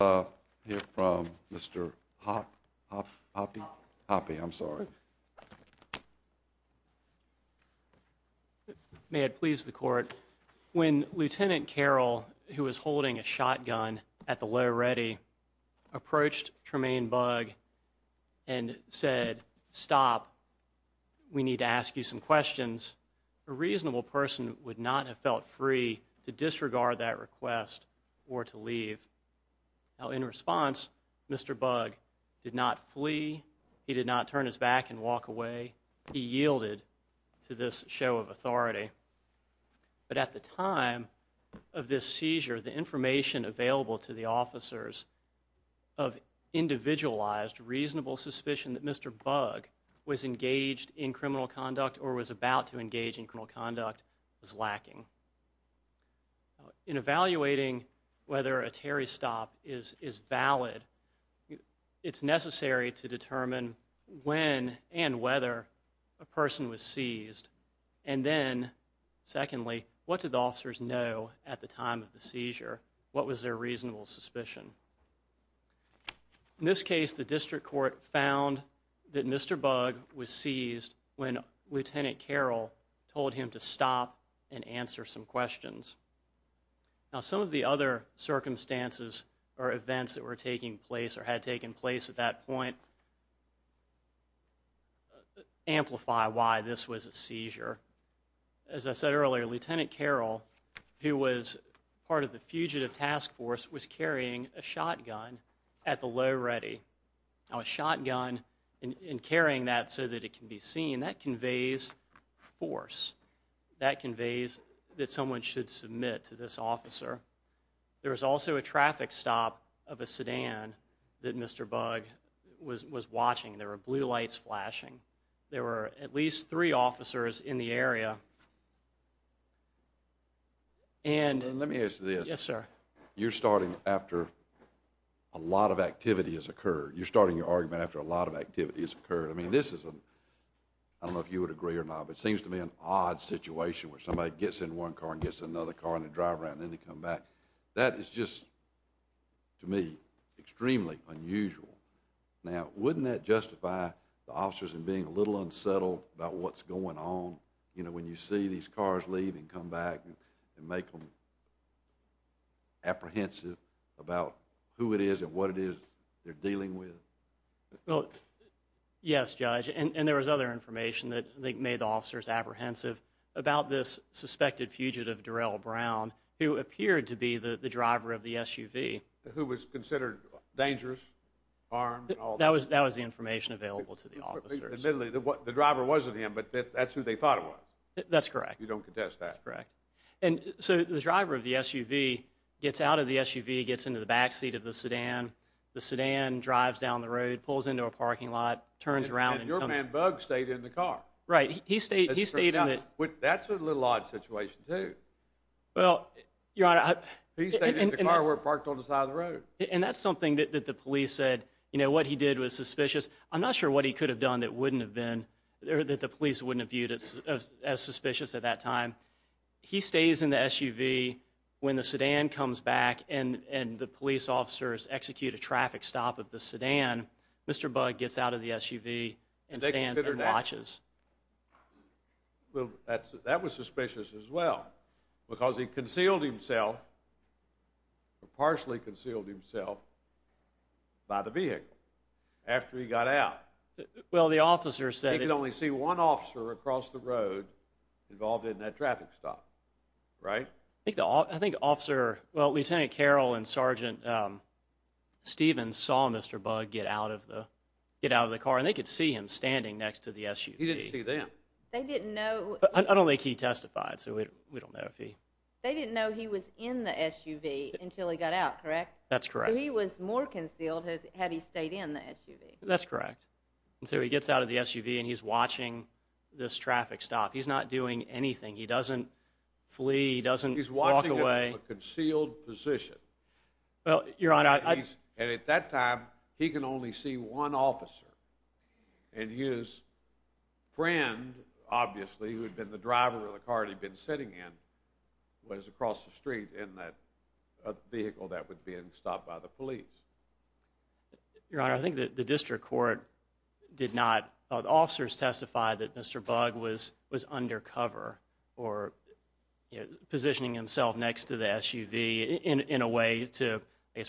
Here from Mr. Hoppe. Hoppe, I'm sorry. May it please the court. When Lieutenant Carroll, who was holding a shotgun at the low ready, approached Tremayne Bugg and said, stop, we need to ask you some questions, a reasonable person would not have felt free to disregard that request or to leave. Now in response, Mr. Bugg did not flee. He did not turn his back and walk away. He yielded to this show of authority. But at the time of this seizure, the information available to the officers of individualized, reasonable suspicion that Mr. Bugg was engaged in In evaluating whether a Terry stop is is valid, it's necessary to determine when and whether a person was seized. And then secondly, what did the officers know at the time of the seizure? What was their reasonable suspicion? In this case, the district court found that Mr. Bugg was seized when Lieutenant Carroll told him to stop and answer some questions. Now some of the other circumstances or events that were taking place or had taken place at that point amplify why this was a seizure. As I said earlier, Lieutenant Carroll, who was part of the fugitive task force, was carrying a shotgun at the low ready. Now a shotgun in carrying that so that it can be seen, that conveys force. That conveys that someone should submit to this officer. There was also a traffic stop of a sedan that Mr. Bugg was was watching. There were blue lights flashing. There were at least three officers in the area. And let me ask this. Yes sir. You're starting after a lot of activity has occurred. You're starting your argument after a lot of activity has occurred. I mean this is a, I don't know if you would agree or not, but it seems to be an odd situation where somebody gets in one car and gets another car and they drive around and then they come back. That is just, to me, extremely unusual. Now wouldn't that justify the officers in being a little unsettled about what's going on? You know, when you see these cars leave and come back and make them apprehensive about who it is and what it is they're dealing with. Well, yes Judge. And there was other information that they made the officers apprehensive about this suspected fugitive Darrell Brown, who appeared to be the driver of the SUV. Who was considered dangerous, armed? That was that was the information available to the officers. Admittedly, the driver wasn't him, but that's who they thought it was. That's correct. You don't contest that. That's correct. And so the driver of the SUV gets out of the SUV, gets into the back seat of the sedan. The sedan drives down the road, pulls into a parking lot, turns around. And your man, Bug, stayed in the car. Right. He stayed in it. That's a little odd situation too. Well, Your Honor. He stayed in the car where it parked on the side of the road. And that's something that the police said, you know, what he did was suspicious. I'm not sure what he could have done that wouldn't have been, that the police wouldn't have viewed it as suspicious at that time. He stays in the SUV when the police officers execute a traffic stop of the sedan. Mr. Bug gets out of the SUV and stands and watches. Well, that was suspicious as well because he concealed himself, partially concealed himself, by the vehicle after he got out. Well, the officers said... He could only see one officer across the road involved in that traffic stop, right? I think officer, well, Lieutenant Carroll and Sergeant Stevens saw Mr. Bug get out of the, get out of the car. And they could see him standing next to the SUV. He didn't see them. They didn't know... I don't think he testified, so we don't know if he... They didn't know he was in the SUV until he got out, correct? That's correct. He was more concealed had he stayed in the SUV. That's correct. And so he gets out of the SUV and he's watching this traffic stop. He's not doing anything. He doesn't flee. He doesn't walk away. He's watching a concealed position. Well, Your Honor, I... And at that time, he can only see one officer. And his friend, obviously, who had been the driver of the car he'd been sitting in, was across the street in that vehicle that was being stopped by the police. Your Honor, I think that the district court did not... Officers testified that Mr. Bug was undercover or positioning himself next to the SUV in a way to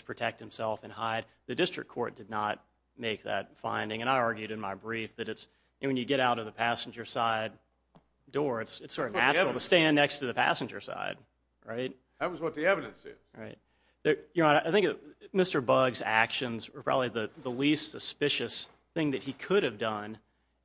protect himself and hide. The district court did not make that finding. And I argued in my brief that it's... When you get out of the passenger side door, it's sort of natural to stand next to the passenger side, right? That was what the evidence said. Right. Your Honor, I think Mr. Bug's actions were probably the least suspicious thing that he could have done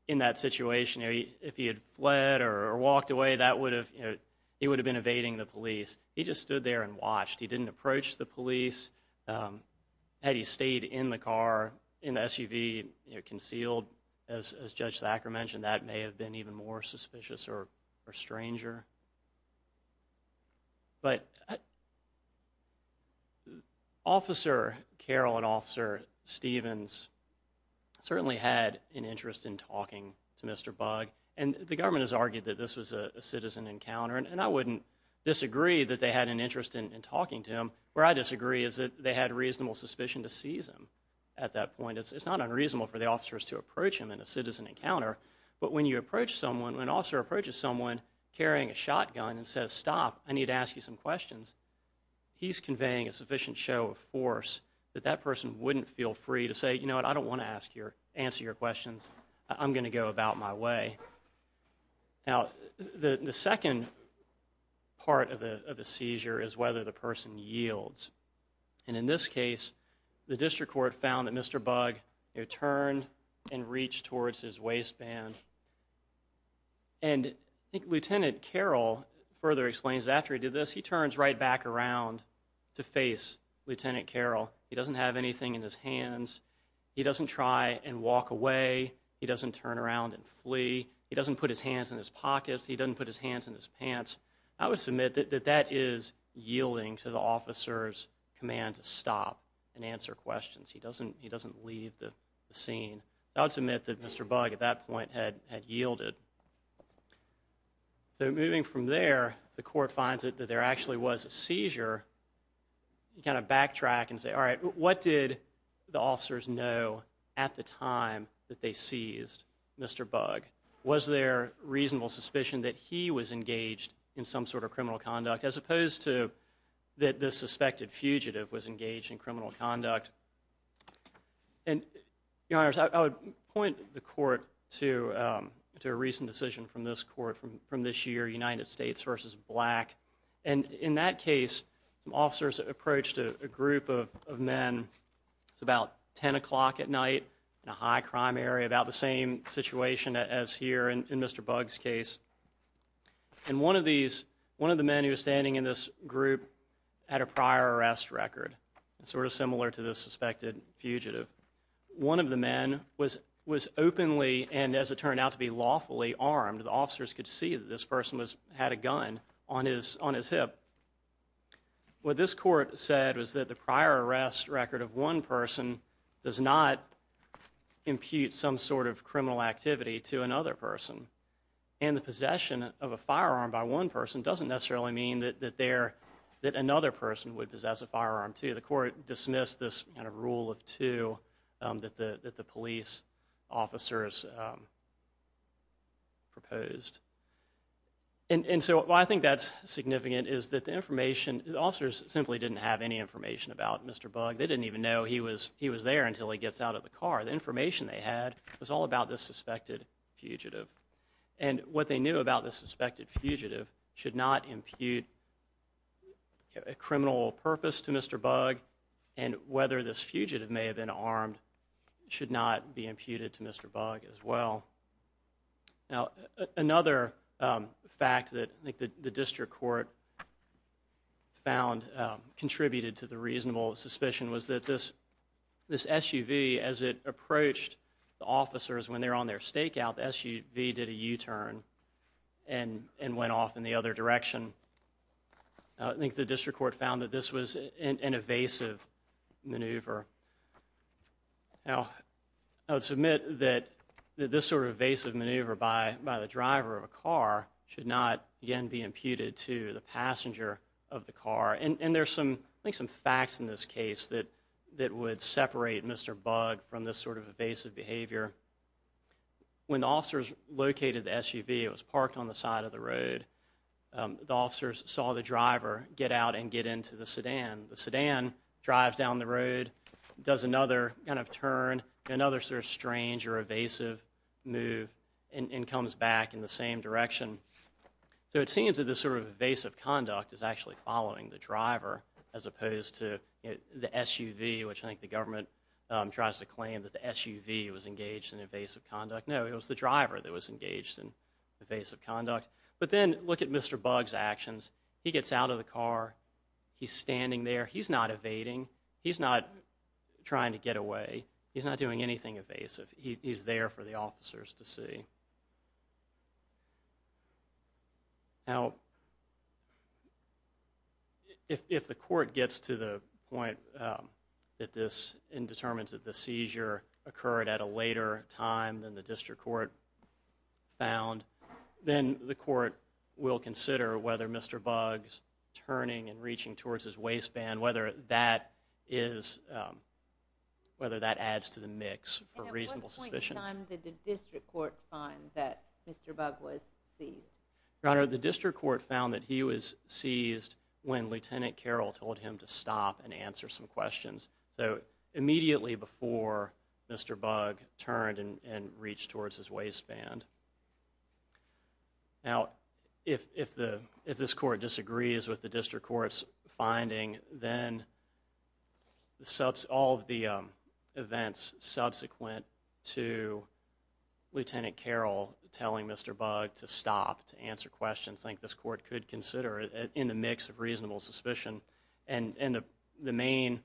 in that situation if he had fled or walked away. That would have, you know, he would have been evading the police. He just stood there and watched. He didn't approach the police. Had he stayed in the car, in the SUV, you know, concealed, as Judge Thacker mentioned, that may have been even more suspicious or stranger. But Officer Carroll and Mr. Bug, and the government has argued that this was a citizen encounter, and I wouldn't disagree that they had an interest in talking to him. Where I disagree is that they had reasonable suspicion to seize him at that point. It's not unreasonable for the officers to approach him in a citizen encounter, but when you approach someone, when an officer approaches someone carrying a shotgun and says, stop, I need to ask you some questions, he's conveying a sufficient show of force that that person wouldn't feel free to say, you know, I'm gonna go about my way. Now, the second part of a seizure is whether the person yields. And in this case, the district court found that Mr. Bug, you know, turned and reached towards his waistband. And Lieutenant Carroll further explains after he did this, he turns right back around to face Lieutenant Carroll. He doesn't have anything in his hands. He doesn't try and walk away. He doesn't turn around and flee. He doesn't put his hands in his pockets. He doesn't put his hands in his pants. I would submit that that is yielding to the officer's command to stop and answer questions. He doesn't, he doesn't leave the scene. I would submit that Mr. Bug, at that point, had yielded. So moving from there, the court finds that there actually was a seizure. You kind of backtrack and say, all right, what did the officers know at the time that they seized Mr. Bug? Was there reasonable suspicion that he was engaged in some sort of criminal conduct, as opposed to that this suspected fugitive was engaged in criminal conduct? And, Your Honors, I would point the court to a recent decision from this court from this year, United States v. Black. And in that case, some officers approached a group of men. It's about 10 o'clock at night in a high-crime area, about the same situation as here in Mr. Bug's case. And one of these, one of the men who was standing in this group, had a prior arrest record. Sort of similar to this suspected fugitive. One of the men was was openly, and as it turned out to be, lawfully armed. The officers could see that this person was, had a gun on his on his hip. What this court said was that the prior arrest record of one person does not impute some sort of criminal activity to another person. And the possession of a firearm by one person doesn't necessarily mean that there, that another person would possess a firearm, too. The court dismissed this kind of rule of two that the police officers proposed. And so why I think that's significant is that the information, the officers simply didn't have any information about Mr. Bug. They didn't even know he was, he was there until he gets out of the car. The information they had was all about this suspected fugitive. And what they knew about this suspected fugitive should not impute a criminal purpose to Mr. Bug. And whether this fugitive may have been armed should not be imputed to Mr. Bug as well. Now another fact that I think the contributed to the reasonable suspicion was that this, this SUV, as it approached the officers when they're on their stakeout, the SUV did a u-turn and, and went off in the other direction. I think the district court found that this was an evasive maneuver. Now I would submit that this sort of evasive maneuver by, by the driver of a car should not again be imputed to the passenger of the car. And there's some, I think some facts in this case that, that would separate Mr. Bug from this sort of evasive behavior. When the officers located the SUV, it was parked on the side of the road, the officers saw the driver get out and get into the sedan. The sedan drives down the road, does another kind of turn, another sort of strange or evasive move, and comes back in the same direction. So it seems that this sort of evasive conduct is actually following the driver as opposed to the SUV, which I think the government tries to claim that the SUV was engaged in evasive conduct. No, it was the driver that was engaged in evasive conduct. But then look at Mr. Bug's actions. He gets out of the car, he's standing there, he's not evading, he's not trying to get away, he's not doing anything evasive. He's there for the officers to see. Now, if the court gets to the point that this, and determines that the seizure occurred at a later time than the district court found, then the court will consider whether Mr. Bug's turning and reaching towards his waistband, whether that is, whether that adds to the mix for reasonable suspicion. And at what point in time did the district court find that Mr. Bug was seized? Your Honor, the district court found that he was seized when Lieutenant Carroll told him to stop and answer some questions. So immediately before Mr. Bug turned and reached towards his waistband. Now, if this court disagrees with the district court's finding, then all of the events subsequent to Lieutenant Carroll telling Mr. Bug to stop to answer questions, I think this court could consider it in the mix of reasonable suspicion. And the main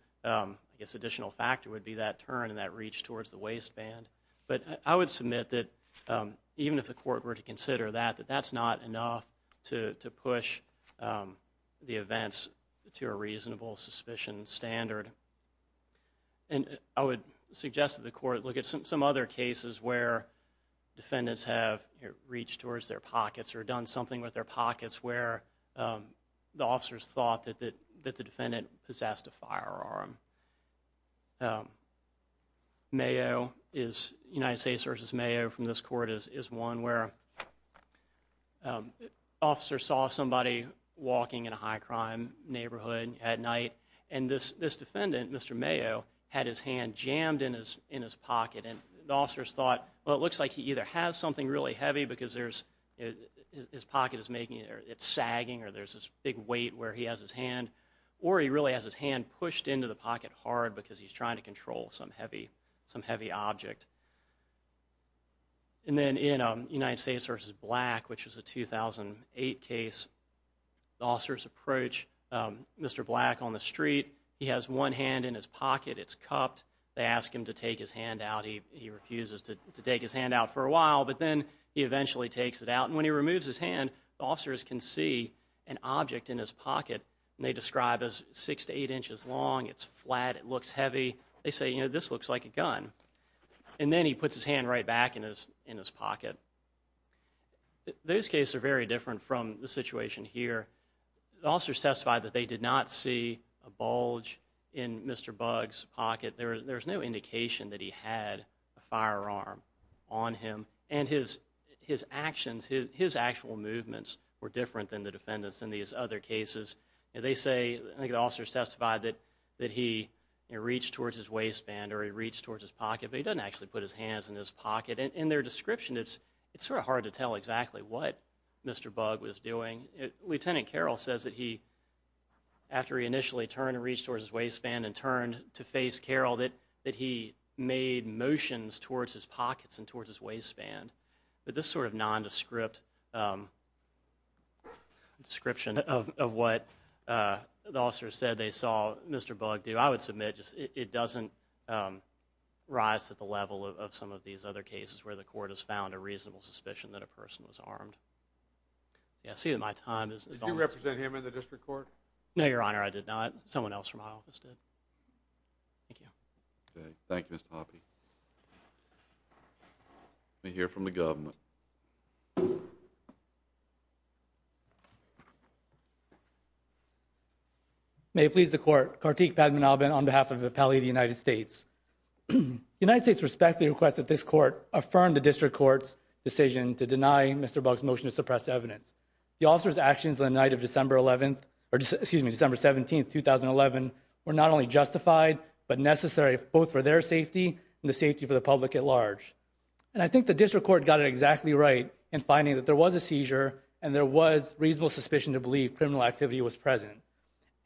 additional factor would be that turn and that reach towards the waistband. But I would submit that even if the court were to consider that, that that's not enough to push the events to a reasonable suspicion standard. And I would suggest that the court look at some other cases where defendants have reached towards their pockets or done something with their pockets where the officers thought that the defendant possessed a firearm. Mayo is United States versus Mayo from this court is one where officers saw somebody walking in a high crime neighborhood at night and this this defendant, Mr. Mayo, had his hand jammed in his in his pocket and the officers thought well it looks like he either has something really heavy because there's his pocket is making it sagging or there's this big weight where he has his or he really has his hand pushed into the pocket hard because he's trying to control some heavy some heavy object. And then in a United States versus Black which was a 2008 case, the officers approach Mr. Black on the street. He has one hand in his pocket. It's cupped. They ask him to take his hand out. He refuses to take his hand out for a while but then he eventually takes it out and when he removes his hand, the officers can see an object in his pocket and they describe as six to eight inches long. It's flat. It looks heavy. They say, you know, this looks like a gun and then he puts his hand right back in his in his pocket. Those cases are very different from the situation here. The officers testified that they did not see a bulge in Mr. Bug's pocket. There's no indication that he had a firearm on him and his his actions, his actual movements were different than the defendants in these other cases. They say, I think the officers testified that that he reached towards his waistband or he reached towards his pocket but he doesn't actually put his hands in his pocket. In their description, it's it's sort of hard to tell exactly what Mr. Bug was doing. Lieutenant Carroll says that he, after he initially turned and reached towards his pocket, he made motions towards his pockets and towards his waistband but this sort of nondescript description of what the officers said they saw Mr. Bug do, I would submit just it doesn't rise to the level of some of these other cases where the court has found a reasonable suspicion that a person was armed. Yeah, I see that my time is almost up. Did you represent him in the district court? No, Your Thank you, Mr. Poppe. Let me hear from the government. May it please the court, Kartik Padmanabhan on behalf of the Appellee of the United States. The United States respectfully requests that this court affirm the district court's decision to deny Mr. Bug's motion to suppress evidence. The officer's actions on the night of December 11th, or excuse me, December 17th, 2011 were not only justified but necessary both for their safety and the safety for the public at large. And I think the district court got it exactly right in finding that there was a seizure and there was reasonable suspicion to believe criminal activity was present.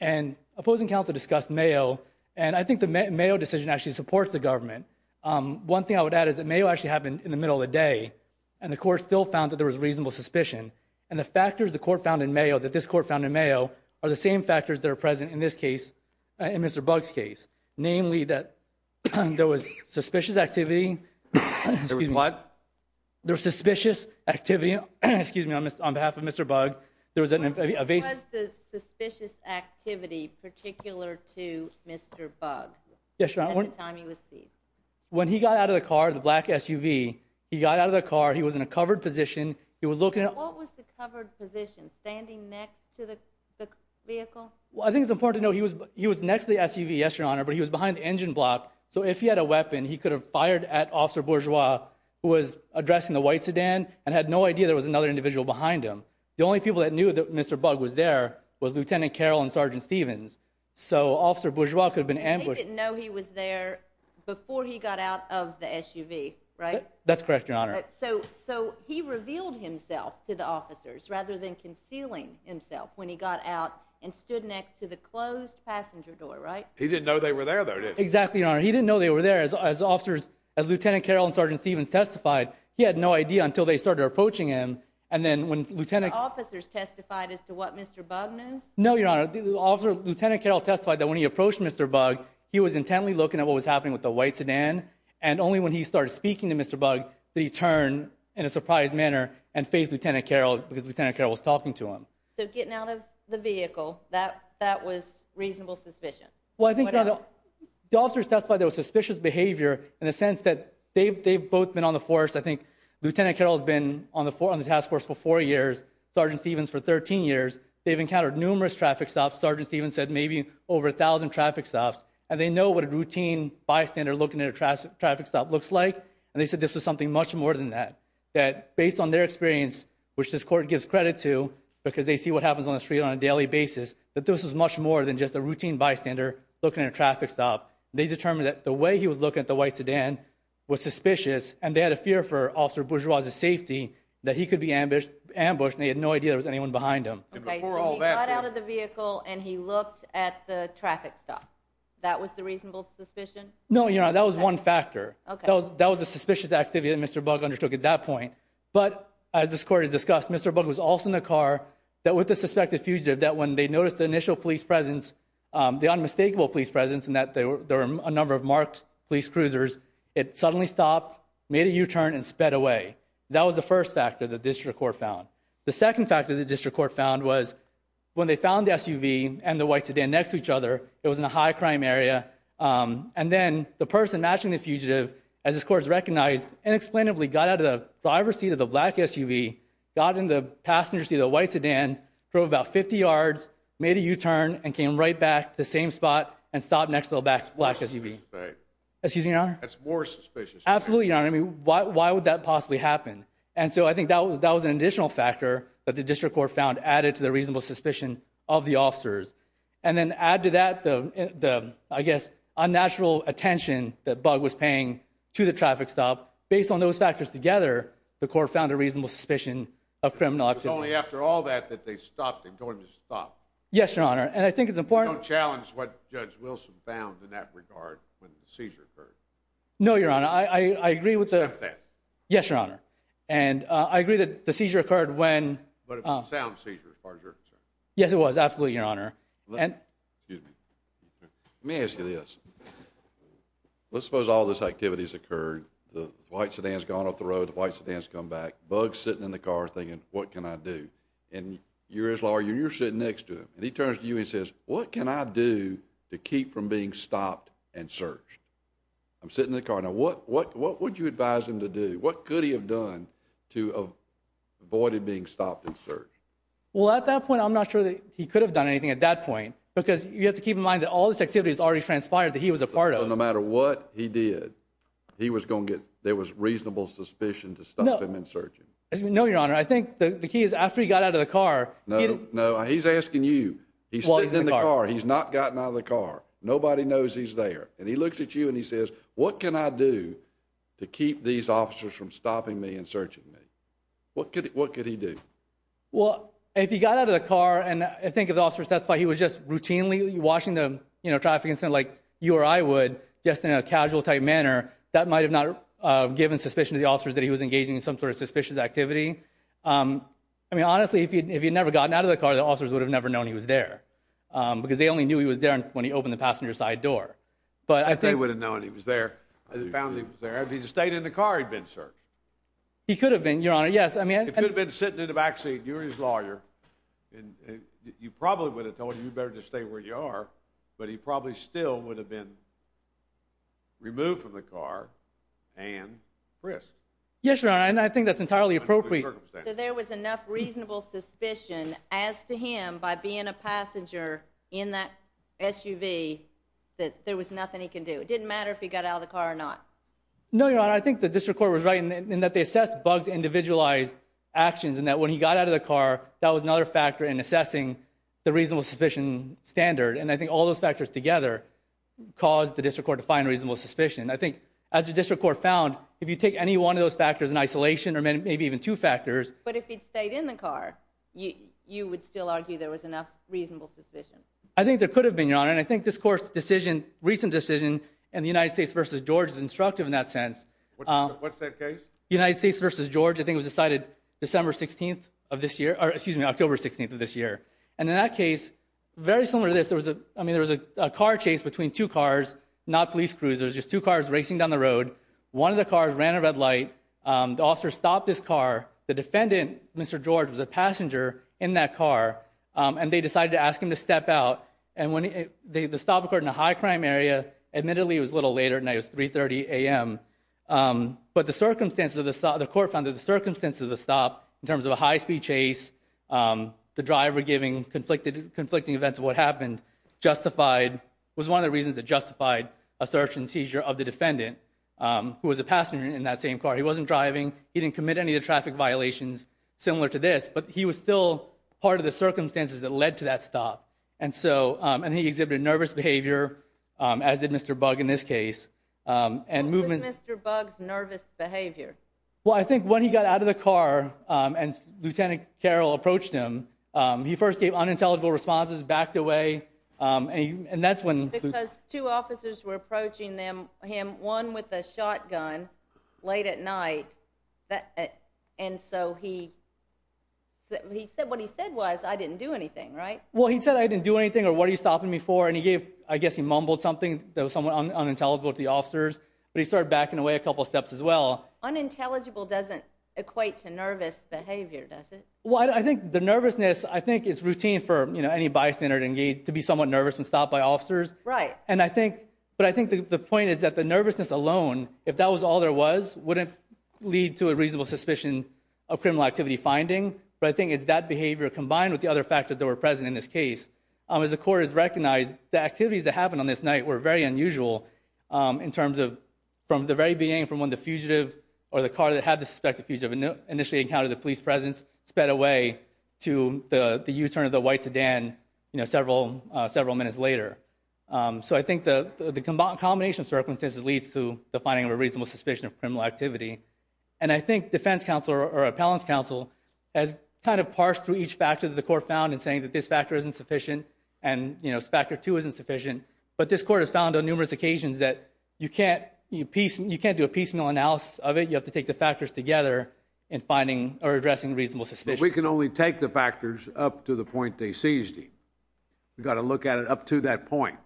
And opposing counsel discussed Mayo and I think the Mayo decision actually supports the government. One thing I would add is that Mayo actually happened in the middle of the day and the court still found that there was reasonable suspicion and the factors the court found in Mayo, that this court found in Mayo, are the same factors that are found in Mr. Bug's case. Namely that there was suspicious activity. There was what? There was suspicious activity on behalf of Mr. Bug. There was an evasive... What was the suspicious activity particular to Mr. Bug at the time he was seized? When he got out of the car, the black SUV, he got out of the car, he was in a covered position, he was looking at... What was the covered position? Standing next to the vehicle? Well I think it's important to know he was he was next to the SUV, yes your honor, but he was behind the engine block. So if he had a weapon he could have fired at Officer Bourgeois who was addressing the white sedan and had no idea there was another individual behind him. The only people that knew that Mr. Bug was there was Lieutenant Carroll and Sergeant Stevens. So Officer Bourgeois could have been ambushed. They didn't know he was there before he got out of the SUV, right? That's correct, your honor. So he revealed himself to the officers rather than stood next to the closed passenger door, right? He didn't know they were there though, did he? Exactly, your honor. He didn't know they were there. As officers, as Lieutenant Carroll and Sergeant Stevens testified, he had no idea until they started approaching him and then when Lieutenant... The officers testified as to what Mr. Bug knew? No, your honor. Lieutenant Carroll testified that when he approached Mr. Bug, he was intently looking at what was happening with the white sedan and only when he started speaking to Mr. Bug did he turn in a surprised manner and face Lieutenant Carroll was talking to him. So getting out of the vehicle, that was reasonable suspicion? Well, I think the officers testified there was suspicious behavior in the sense that they've both been on the force. I think Lieutenant Carroll has been on the task force for four years, Sergeant Stevens for 13 years. They've encountered numerous traffic stops. Sergeant Stevens said maybe over a thousand traffic stops and they know what a routine bystander looking at a traffic stop looks like and they said this was something much more than that. That based on their experience, which this court gives credit to because they see what happens on the street on a daily basis, that this was much more than just a routine bystander looking at a traffic stop. They determined that the way he was looking at the white sedan was suspicious and they had a fear for Officer Bourgeois' safety that he could be ambushed and they had no idea there was anyone behind him. So he got out of the vehicle and he looked at the traffic stop. That was the reasonable suspicion? No, your honor. That was one factor. That was at that point. But as this court has discussed, Mr. Bugg was also in the car that with the suspected fugitive that when they noticed the initial police presence, the unmistakable police presence and that there were a number of marked police cruisers, it suddenly stopped, made a U-turn and sped away. That was the first factor the district court found. The second factor the district court found was when they found the SUV and the white sedan next to each other, it was in a high crime area and then the person matching the fugitive, as a driver's seat of the black SUV, got in the passenger seat of the white sedan, drove about 50 yards, made a U-turn and came right back to the same spot and stopped next to the black SUV. That's more suspicious. Absolutely, your honor. I mean, why would that possibly happen? And so I think that was that was an additional factor that the district court found added to the reasonable suspicion of the officers. And then add to that the, I guess, unnatural attention that Bugg was paying to the traffic stop. Based on those factors together, the court found a reasonable suspicion of criminal activity. It's only after all that that they stopped and told him to stop. Yes, your honor. And I think it's important... Don't challenge what Judge Wilson found in that regard when the seizure occurred. No, your honor. I agree with the... Except that. Yes, your honor. And I agree that the seizure occurred when... But it was a sound seizure as far as you're concerned. Yes, it was. Absolutely, your honor. Let me ask you this. Let's suppose all this activities occurred. The white sedan has come back. Bugg's sitting in the car thinking, what can I do? And you're his lawyer. You're sitting next to him. And he turns to you and says, what can I do to keep from being stopped and searched? I'm sitting in the car. Now, what would you advise him to do? What could he have done to avoid being stopped and searched? Well, at that point, I'm not sure that he could have done anything at that point. Because you have to keep in mind that all this activity is already transpired that he was a part of. No matter what he did, he was going to get... There was reasonable suspicion to stop him and search him. No, your honor. I think the key is after he got out of the car... No, no. He's asking you. He's sitting in the car. He's not gotten out of the car. Nobody knows he's there. And he looks at you and he says, what can I do to keep these officers from stopping me and searching me? What could he do? Well, if he got out of the car and I think his officer testified he was just routinely watching the, you know, traffic incident like you or I would, just in a casual type manner, that might have not given suspicion to the officers that he was engaging in some sort of suspicious activity. I mean, honestly, if he had never gotten out of the car, the officers would have never known he was there. Because they only knew he was there when he opened the passenger side door. But I think... They would have known he was there. If he had found he was there. If he had stayed in the car, he'd been searched. He could have been, your honor. Yes, I mean... If he had been sitting in the backseat, you're his lawyer, and you probably would have told him, you better stay where you are. But he probably still would have been removed from the car and frisked. Yes, your honor, and I think that's entirely appropriate. So there was enough reasonable suspicion as to him by being a passenger in that SUV that there was nothing he can do. It didn't matter if he got out of the car or not. No, your honor. I think the district court was right in that they assessed Bugg's individualized actions and that when he got out of the car, that was another factor in assessing the reasonable suspicion standard. And I think all those factors together caused the district court to find reasonable suspicion. I think, as the district court found, if you take any one of those factors in isolation, or maybe even two factors... But if he'd stayed in the car, you would still argue there was enough reasonable suspicion? I think there could have been, your honor. And I think this court's decision, recent decision, in the United States v. George is instructive in that sense. What's that case? United States v. George. I think it was decided December 16th of this year, or excuse me, October 16th of this year. And in that case, very similar to this, there was a, I mean, there was a car chase between two cars, not police cruisers, just two cars racing down the road. One of the cars ran a red light. The officer stopped his car. The defendant, Mr. George, was a passenger in that car, and they decided to ask him to step out. And when the stop occurred in a high-crime area, admittedly it was a little later than that, it was 3.30 a.m., but the circumstances of the stop, the court found that the circumstances of the stop, in the driver giving conflicting events of what happened, justified, was one of the reasons that justified a search and seizure of the defendant, who was a passenger in that same car. He wasn't driving. He didn't commit any of the traffic violations, similar to this, but he was still part of the circumstances that led to that stop. And so, and he exhibited nervous behavior, as did Mr. Bugg in this case. And movement... What was Mr. Bugg's nervous behavior? Well, I think when he got out of the car, and Lieutenant Carroll approached him, he first gave unintelligible responses, backed away, and that's when... Because two officers were approaching him, one with a shotgun, late at night, and so he, what he said was, I didn't do anything, right? Well, he said I didn't do anything, or what are you stopping me for? And he gave, I guess he mumbled something that was somewhat unintelligible to the officers, but he started backing away a couple steps as well. Unintelligible doesn't equate to nervous behavior, does it? Well, I think the nervousness, I think, is routine for, you know, any bystander to engage, to be somewhat nervous when stopped by officers. Right. And I think, but I think the point is that the nervousness alone, if that was all there was, wouldn't lead to a reasonable suspicion of criminal activity finding, but I think it's that behavior combined with the other factors that were present in this case. As the court has recognized, the activities that happened on this night were very unusual in terms of, from the very beginning, from when the fugitive, or the car that had the suspected fugitive initially encountered the police presence, sped away to the the U-turn of the white sedan, you know, several, several minutes later. So I think the combination of circumstances leads to the finding of a reasonable suspicion of criminal activity, and I think defense counsel, or appellant's counsel, has kind of parsed through each factor that the court found in saying that this factor isn't sufficient, and, you know, factor two isn't sufficient, but this court has found on numerous occasions that you can't, you can't do a piecemeal analysis of it, you have to take the factors together in finding or addressing reasonable suspicion. But we can only take the factors up to the point they seized him. We've got to look at it up to that point.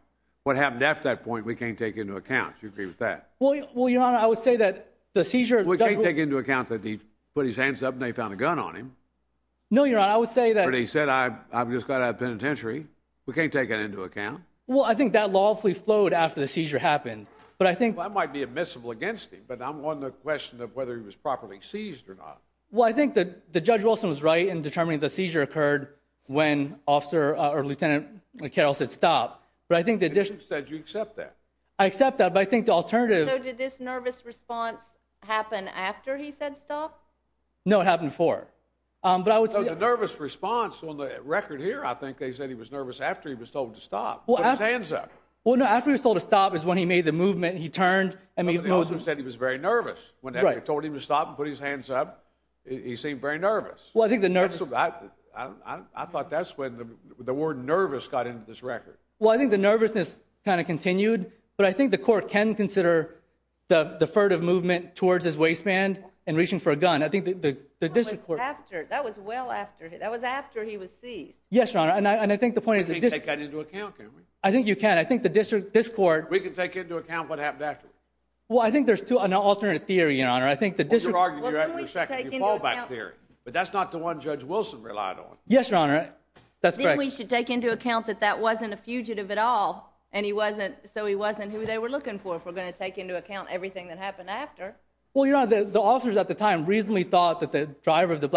What happened after that point, we can't take into account. Do you agree with that? Well, your honor, I would say that the seizure... We can't take into account that he put his hands up and they found a gun on him. No, your honor, I would say that... Well, I think that lawfully flowed after the seizure happened, but I think... That might be admissible against him, but I'm on the question of whether he was properly seized or not. Well, I think that the judge Wilson was right in determining the seizure occurred when officer, or lieutenant Carroll said stop, but I think the... You said you accept that. I accept that, but I think the alternative... So did this nervous response happen after he said stop? No, it happened before, but I would say... So the nervous response on the record here, I think they said he was nervous after he was told to stop, put his hands up. Well, no, after he was told to stop is when he made the movement, he turned and he... But the officer said he was very nervous. Right. When they told him to stop and put his hands up, he seemed very nervous. Well, I think the... I thought that's when the word nervous got into this record. Well, I think the nervousness kind of continued, but I think the court can consider the furtive movement towards his waistband and reaching for a gun. I think the district court... That was well after. That was after he was seized. Yes, your honor, and I think the point is... We can't take that into account, can we? I think you can. I think the district, this court... We can take into account what happened afterwards. Well, I think there's an alternate theory, your honor. I think the district... Well, you're arguing you're right for a second. You fall back theory, but that's not the one Judge Wilson relied on. Yes, your honor. That's correct. Then we should take into account that that wasn't a fugitive at all, and he wasn't, so he wasn't who they were looking for if we're going to take into account everything that happened after. Well, your honor, the officers at the time reasonably thought that the driver of the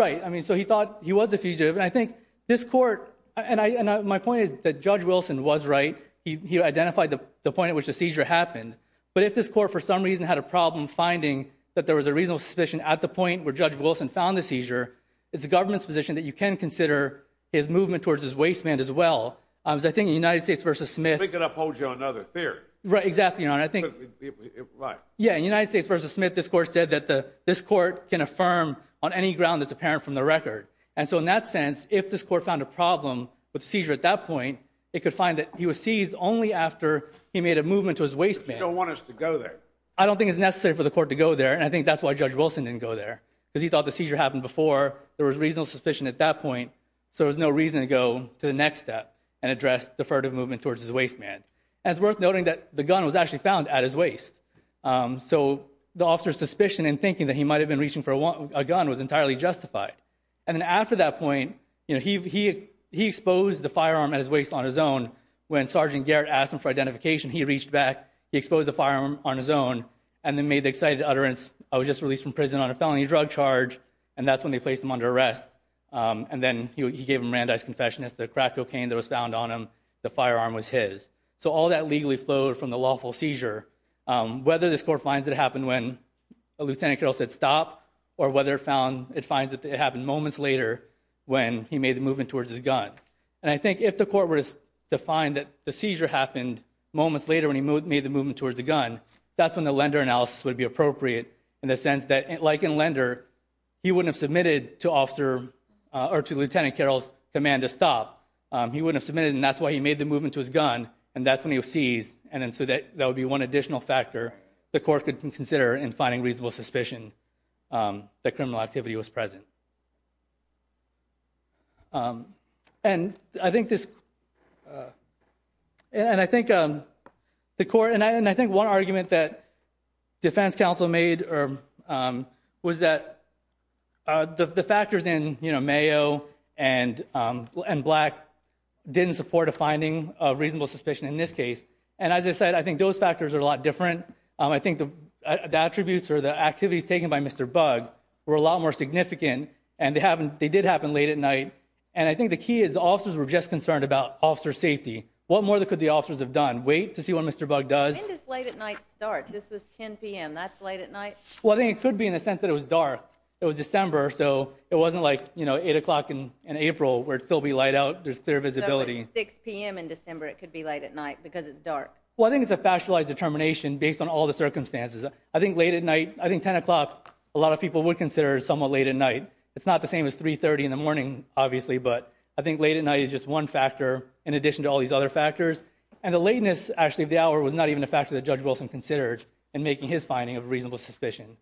I mean, so he thought he was a fugitive, and I think this court, and my point is that Judge Wilson was right. He identified the point at which the seizure happened, but if this court, for some reason, had a problem finding that there was a reasonable suspicion at the point where Judge Wilson found the seizure, it's the government's position that you can consider his movement towards his waistband as well. I was thinking United States v. Smith... I think it upholds you on another theory. Right, exactly, your honor. I think... Right. Yeah, United States v. Smith, this court said that this court can affirm on any ground that's apparent from the record, and so in that sense, if this court found a problem with the seizure at that point, it could find that he was seized only after he made a movement to his waistband. You don't want us to go there. I don't think it's necessary for the court to go there, and I think that's why Judge Wilson didn't go there, because he thought the seizure happened before, there was reasonable suspicion at that point, so there's no reason to go to the next step and address deferred movement towards his waistband. And it's worth noting that the gun was actually found at his waist, so the officer's suspicion in thinking that he might have been And then after that point, you know, he exposed the firearm at his waist on his own. When Sergeant Garrett asked him for identification, he reached back, he exposed the firearm on his own, and then made the excited utterance, I was just released from prison on a felony drug charge, and that's when they placed him under arrest. And then he gave him Randi's confession, it's the crack cocaine that was found on him, the firearm was his. So all that legally flowed from the lawful seizure. Whether this court finds it happened when a moment later when he made the movement towards his gun. And I think if the court was to find that the seizure happened moments later when he made the movement towards the gun, that's when the lender analysis would be appropriate in the sense that, like in lender, he wouldn't have submitted to officer or to Lieutenant Carroll's command to stop. He wouldn't have submitted, and that's why he made the movement to his gun, and that's when he was seized, and then so that that would be one additional factor the court could consider in finding reasonable suspicion that criminal activity was present. And I think this, and I think the court, and I think one argument that defense counsel made or was that the factors in, you know, mayo and black didn't support a finding of reasonable suspicion in this case. And as I said, I think those factors are a lot more significant, and they haven't, they did happen late at night, and I think the key is the officers were just concerned about officer safety. What more that could the officers have done? Wait to see what Mr. Bug does? When does late at night start? This was 10 p.m., that's late at night? Well, I think it could be in the sense that it was dark. It was December, so it wasn't like, you know, eight o'clock in April where it'd still be light out, there's clear visibility. So it's 6 p.m. in December, it could be late at night because it's dark. Well, I think it's a factualized determination based on all the factors. Late at night, I think 10 o'clock, a lot of people would consider somewhat late at night. It's not the same as 3.30 in the morning, obviously, but I think late at night is just one factor in addition to all these other factors. And the lateness, actually, of the hour was not even a factor that Judge Wilson considered in making his finding of reasonable suspicion.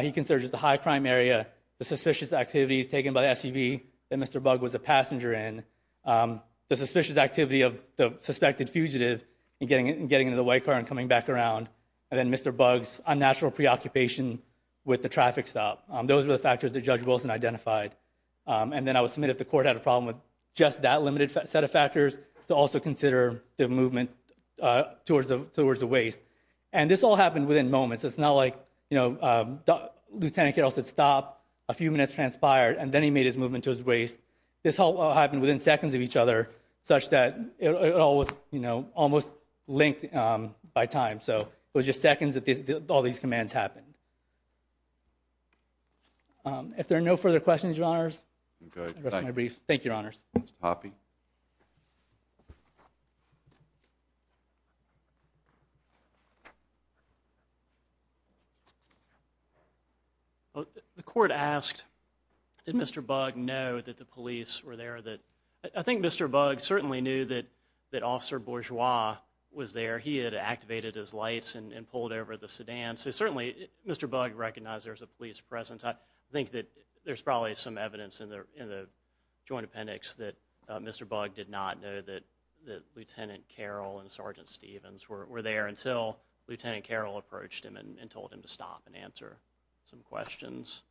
He considers the high crime area, the suspicious activities taken by the SUV that Mr. Bug was a passenger in, the suspicious activity of the suspected fugitive in getting into the white car and coming back around, and then Mr. Bug's unnatural preoccupation with the traffic stop. Those were the factors that Judge Wilson identified. And then I would submit if the court had a problem with just that limited set of factors, to also consider the movement towards the waste. And this all happened within moments. It's not like, you know, Lieutenant Carroll said stop, a few minutes transpired, and then he made his movement to his waste. This all happened within seconds of each other, such that it all was, you know, almost linked by time. So it was just seconds that all these commands happened. If there are no further questions, Your Honors, that's my brief. Thank you, Your Honors. Mr. Hoppe? The court asked, did Mr. Bug know that the police were there? I think Mr. Bug certainly knew that that Officer Bourgeois was there. He had activated his lights and pulled over the sedan. So certainly Mr. Bug recognized there's a police presence. I think that there's probably some evidence in the joint appendix that Mr. Bug did not know that the Lieutenant Carroll and Sergeant Stevens were there until Lieutenant Carroll approached him and told him to stop and answer some questions.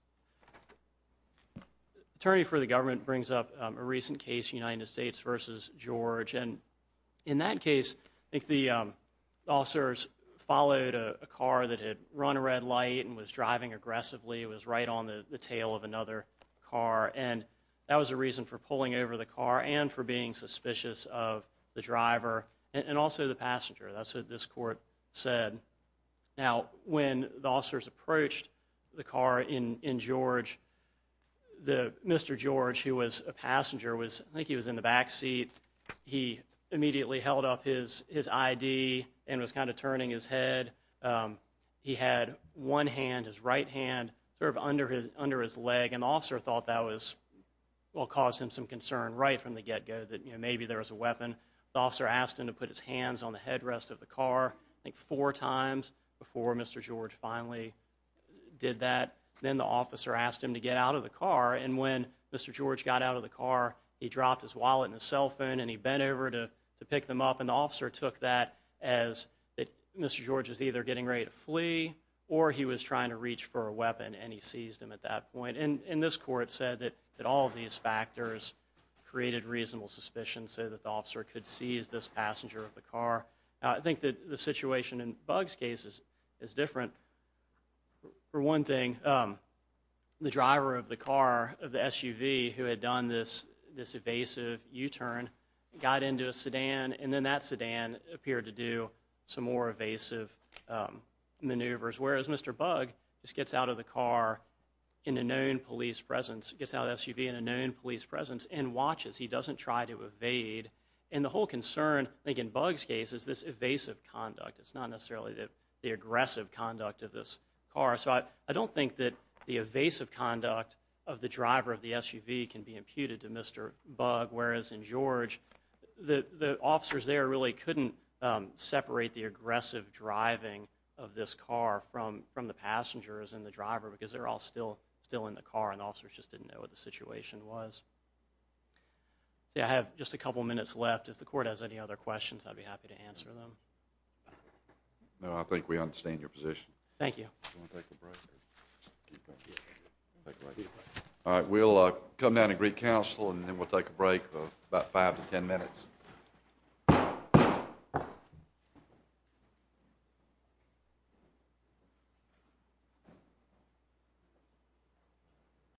Attorney for the government brings up a recent case, United States versus George, and in that case, I think the officers followed a car that had run a red light and was driving aggressively. It was right on the tail of another car, and that was a reason for pulling over the car and for being suspicious of the driver and also the passenger. That's what this court said. Now, when the officers approached the car in George, Mr. George, who was a passenger, I think he was in the back seat, he immediately held up his ID and was kind of turning his head. He had one hand, his right hand, sort of under his leg, and the officer thought that was, well, caused him some concern right from the get-go that, you know, maybe there was a weapon. The officer asked him to put his hands on the headrest of the car, I think four times before Mr. George finally did that. Then the officer asked him to get out of the car, and when Mr. George got out of the car, he dropped his wallet and his cell phone, and he bent over to pick them up, and the officer took that as that Mr. George is either getting ready to flee or he was trying to reach for a weapon, and he seized him at that point. And this court said that all of these factors created reasonable suspicion, so that the officer could seize this passenger of the car. I think that the situation in different. For one thing, the driver of the car of the SUV who had done this this evasive U-turn got into a sedan, and then that sedan appeared to do some more evasive maneuvers, whereas Mr. Bug just gets out of the car in a known police presence, gets out of the SUV in a known police presence, and watches. He doesn't try to evade, and the whole concern, I think in Bug's case, is this evasive conduct. It's not necessarily the aggressive conduct of this car, so I don't think that the evasive conduct of the driver of the SUV can be imputed to Mr. Bug, whereas in George, the officers there really couldn't separate the aggressive driving of this car from from the passengers and the driver, because they're all still still in the car, and officers just didn't know what the situation was. I have just a couple minutes left. If the court has any other questions, I'd be happy to answer them. No, I think we understand your position. Thank you. All right, we'll come down to Greek Council, and then we'll take a break for about five to ten minutes.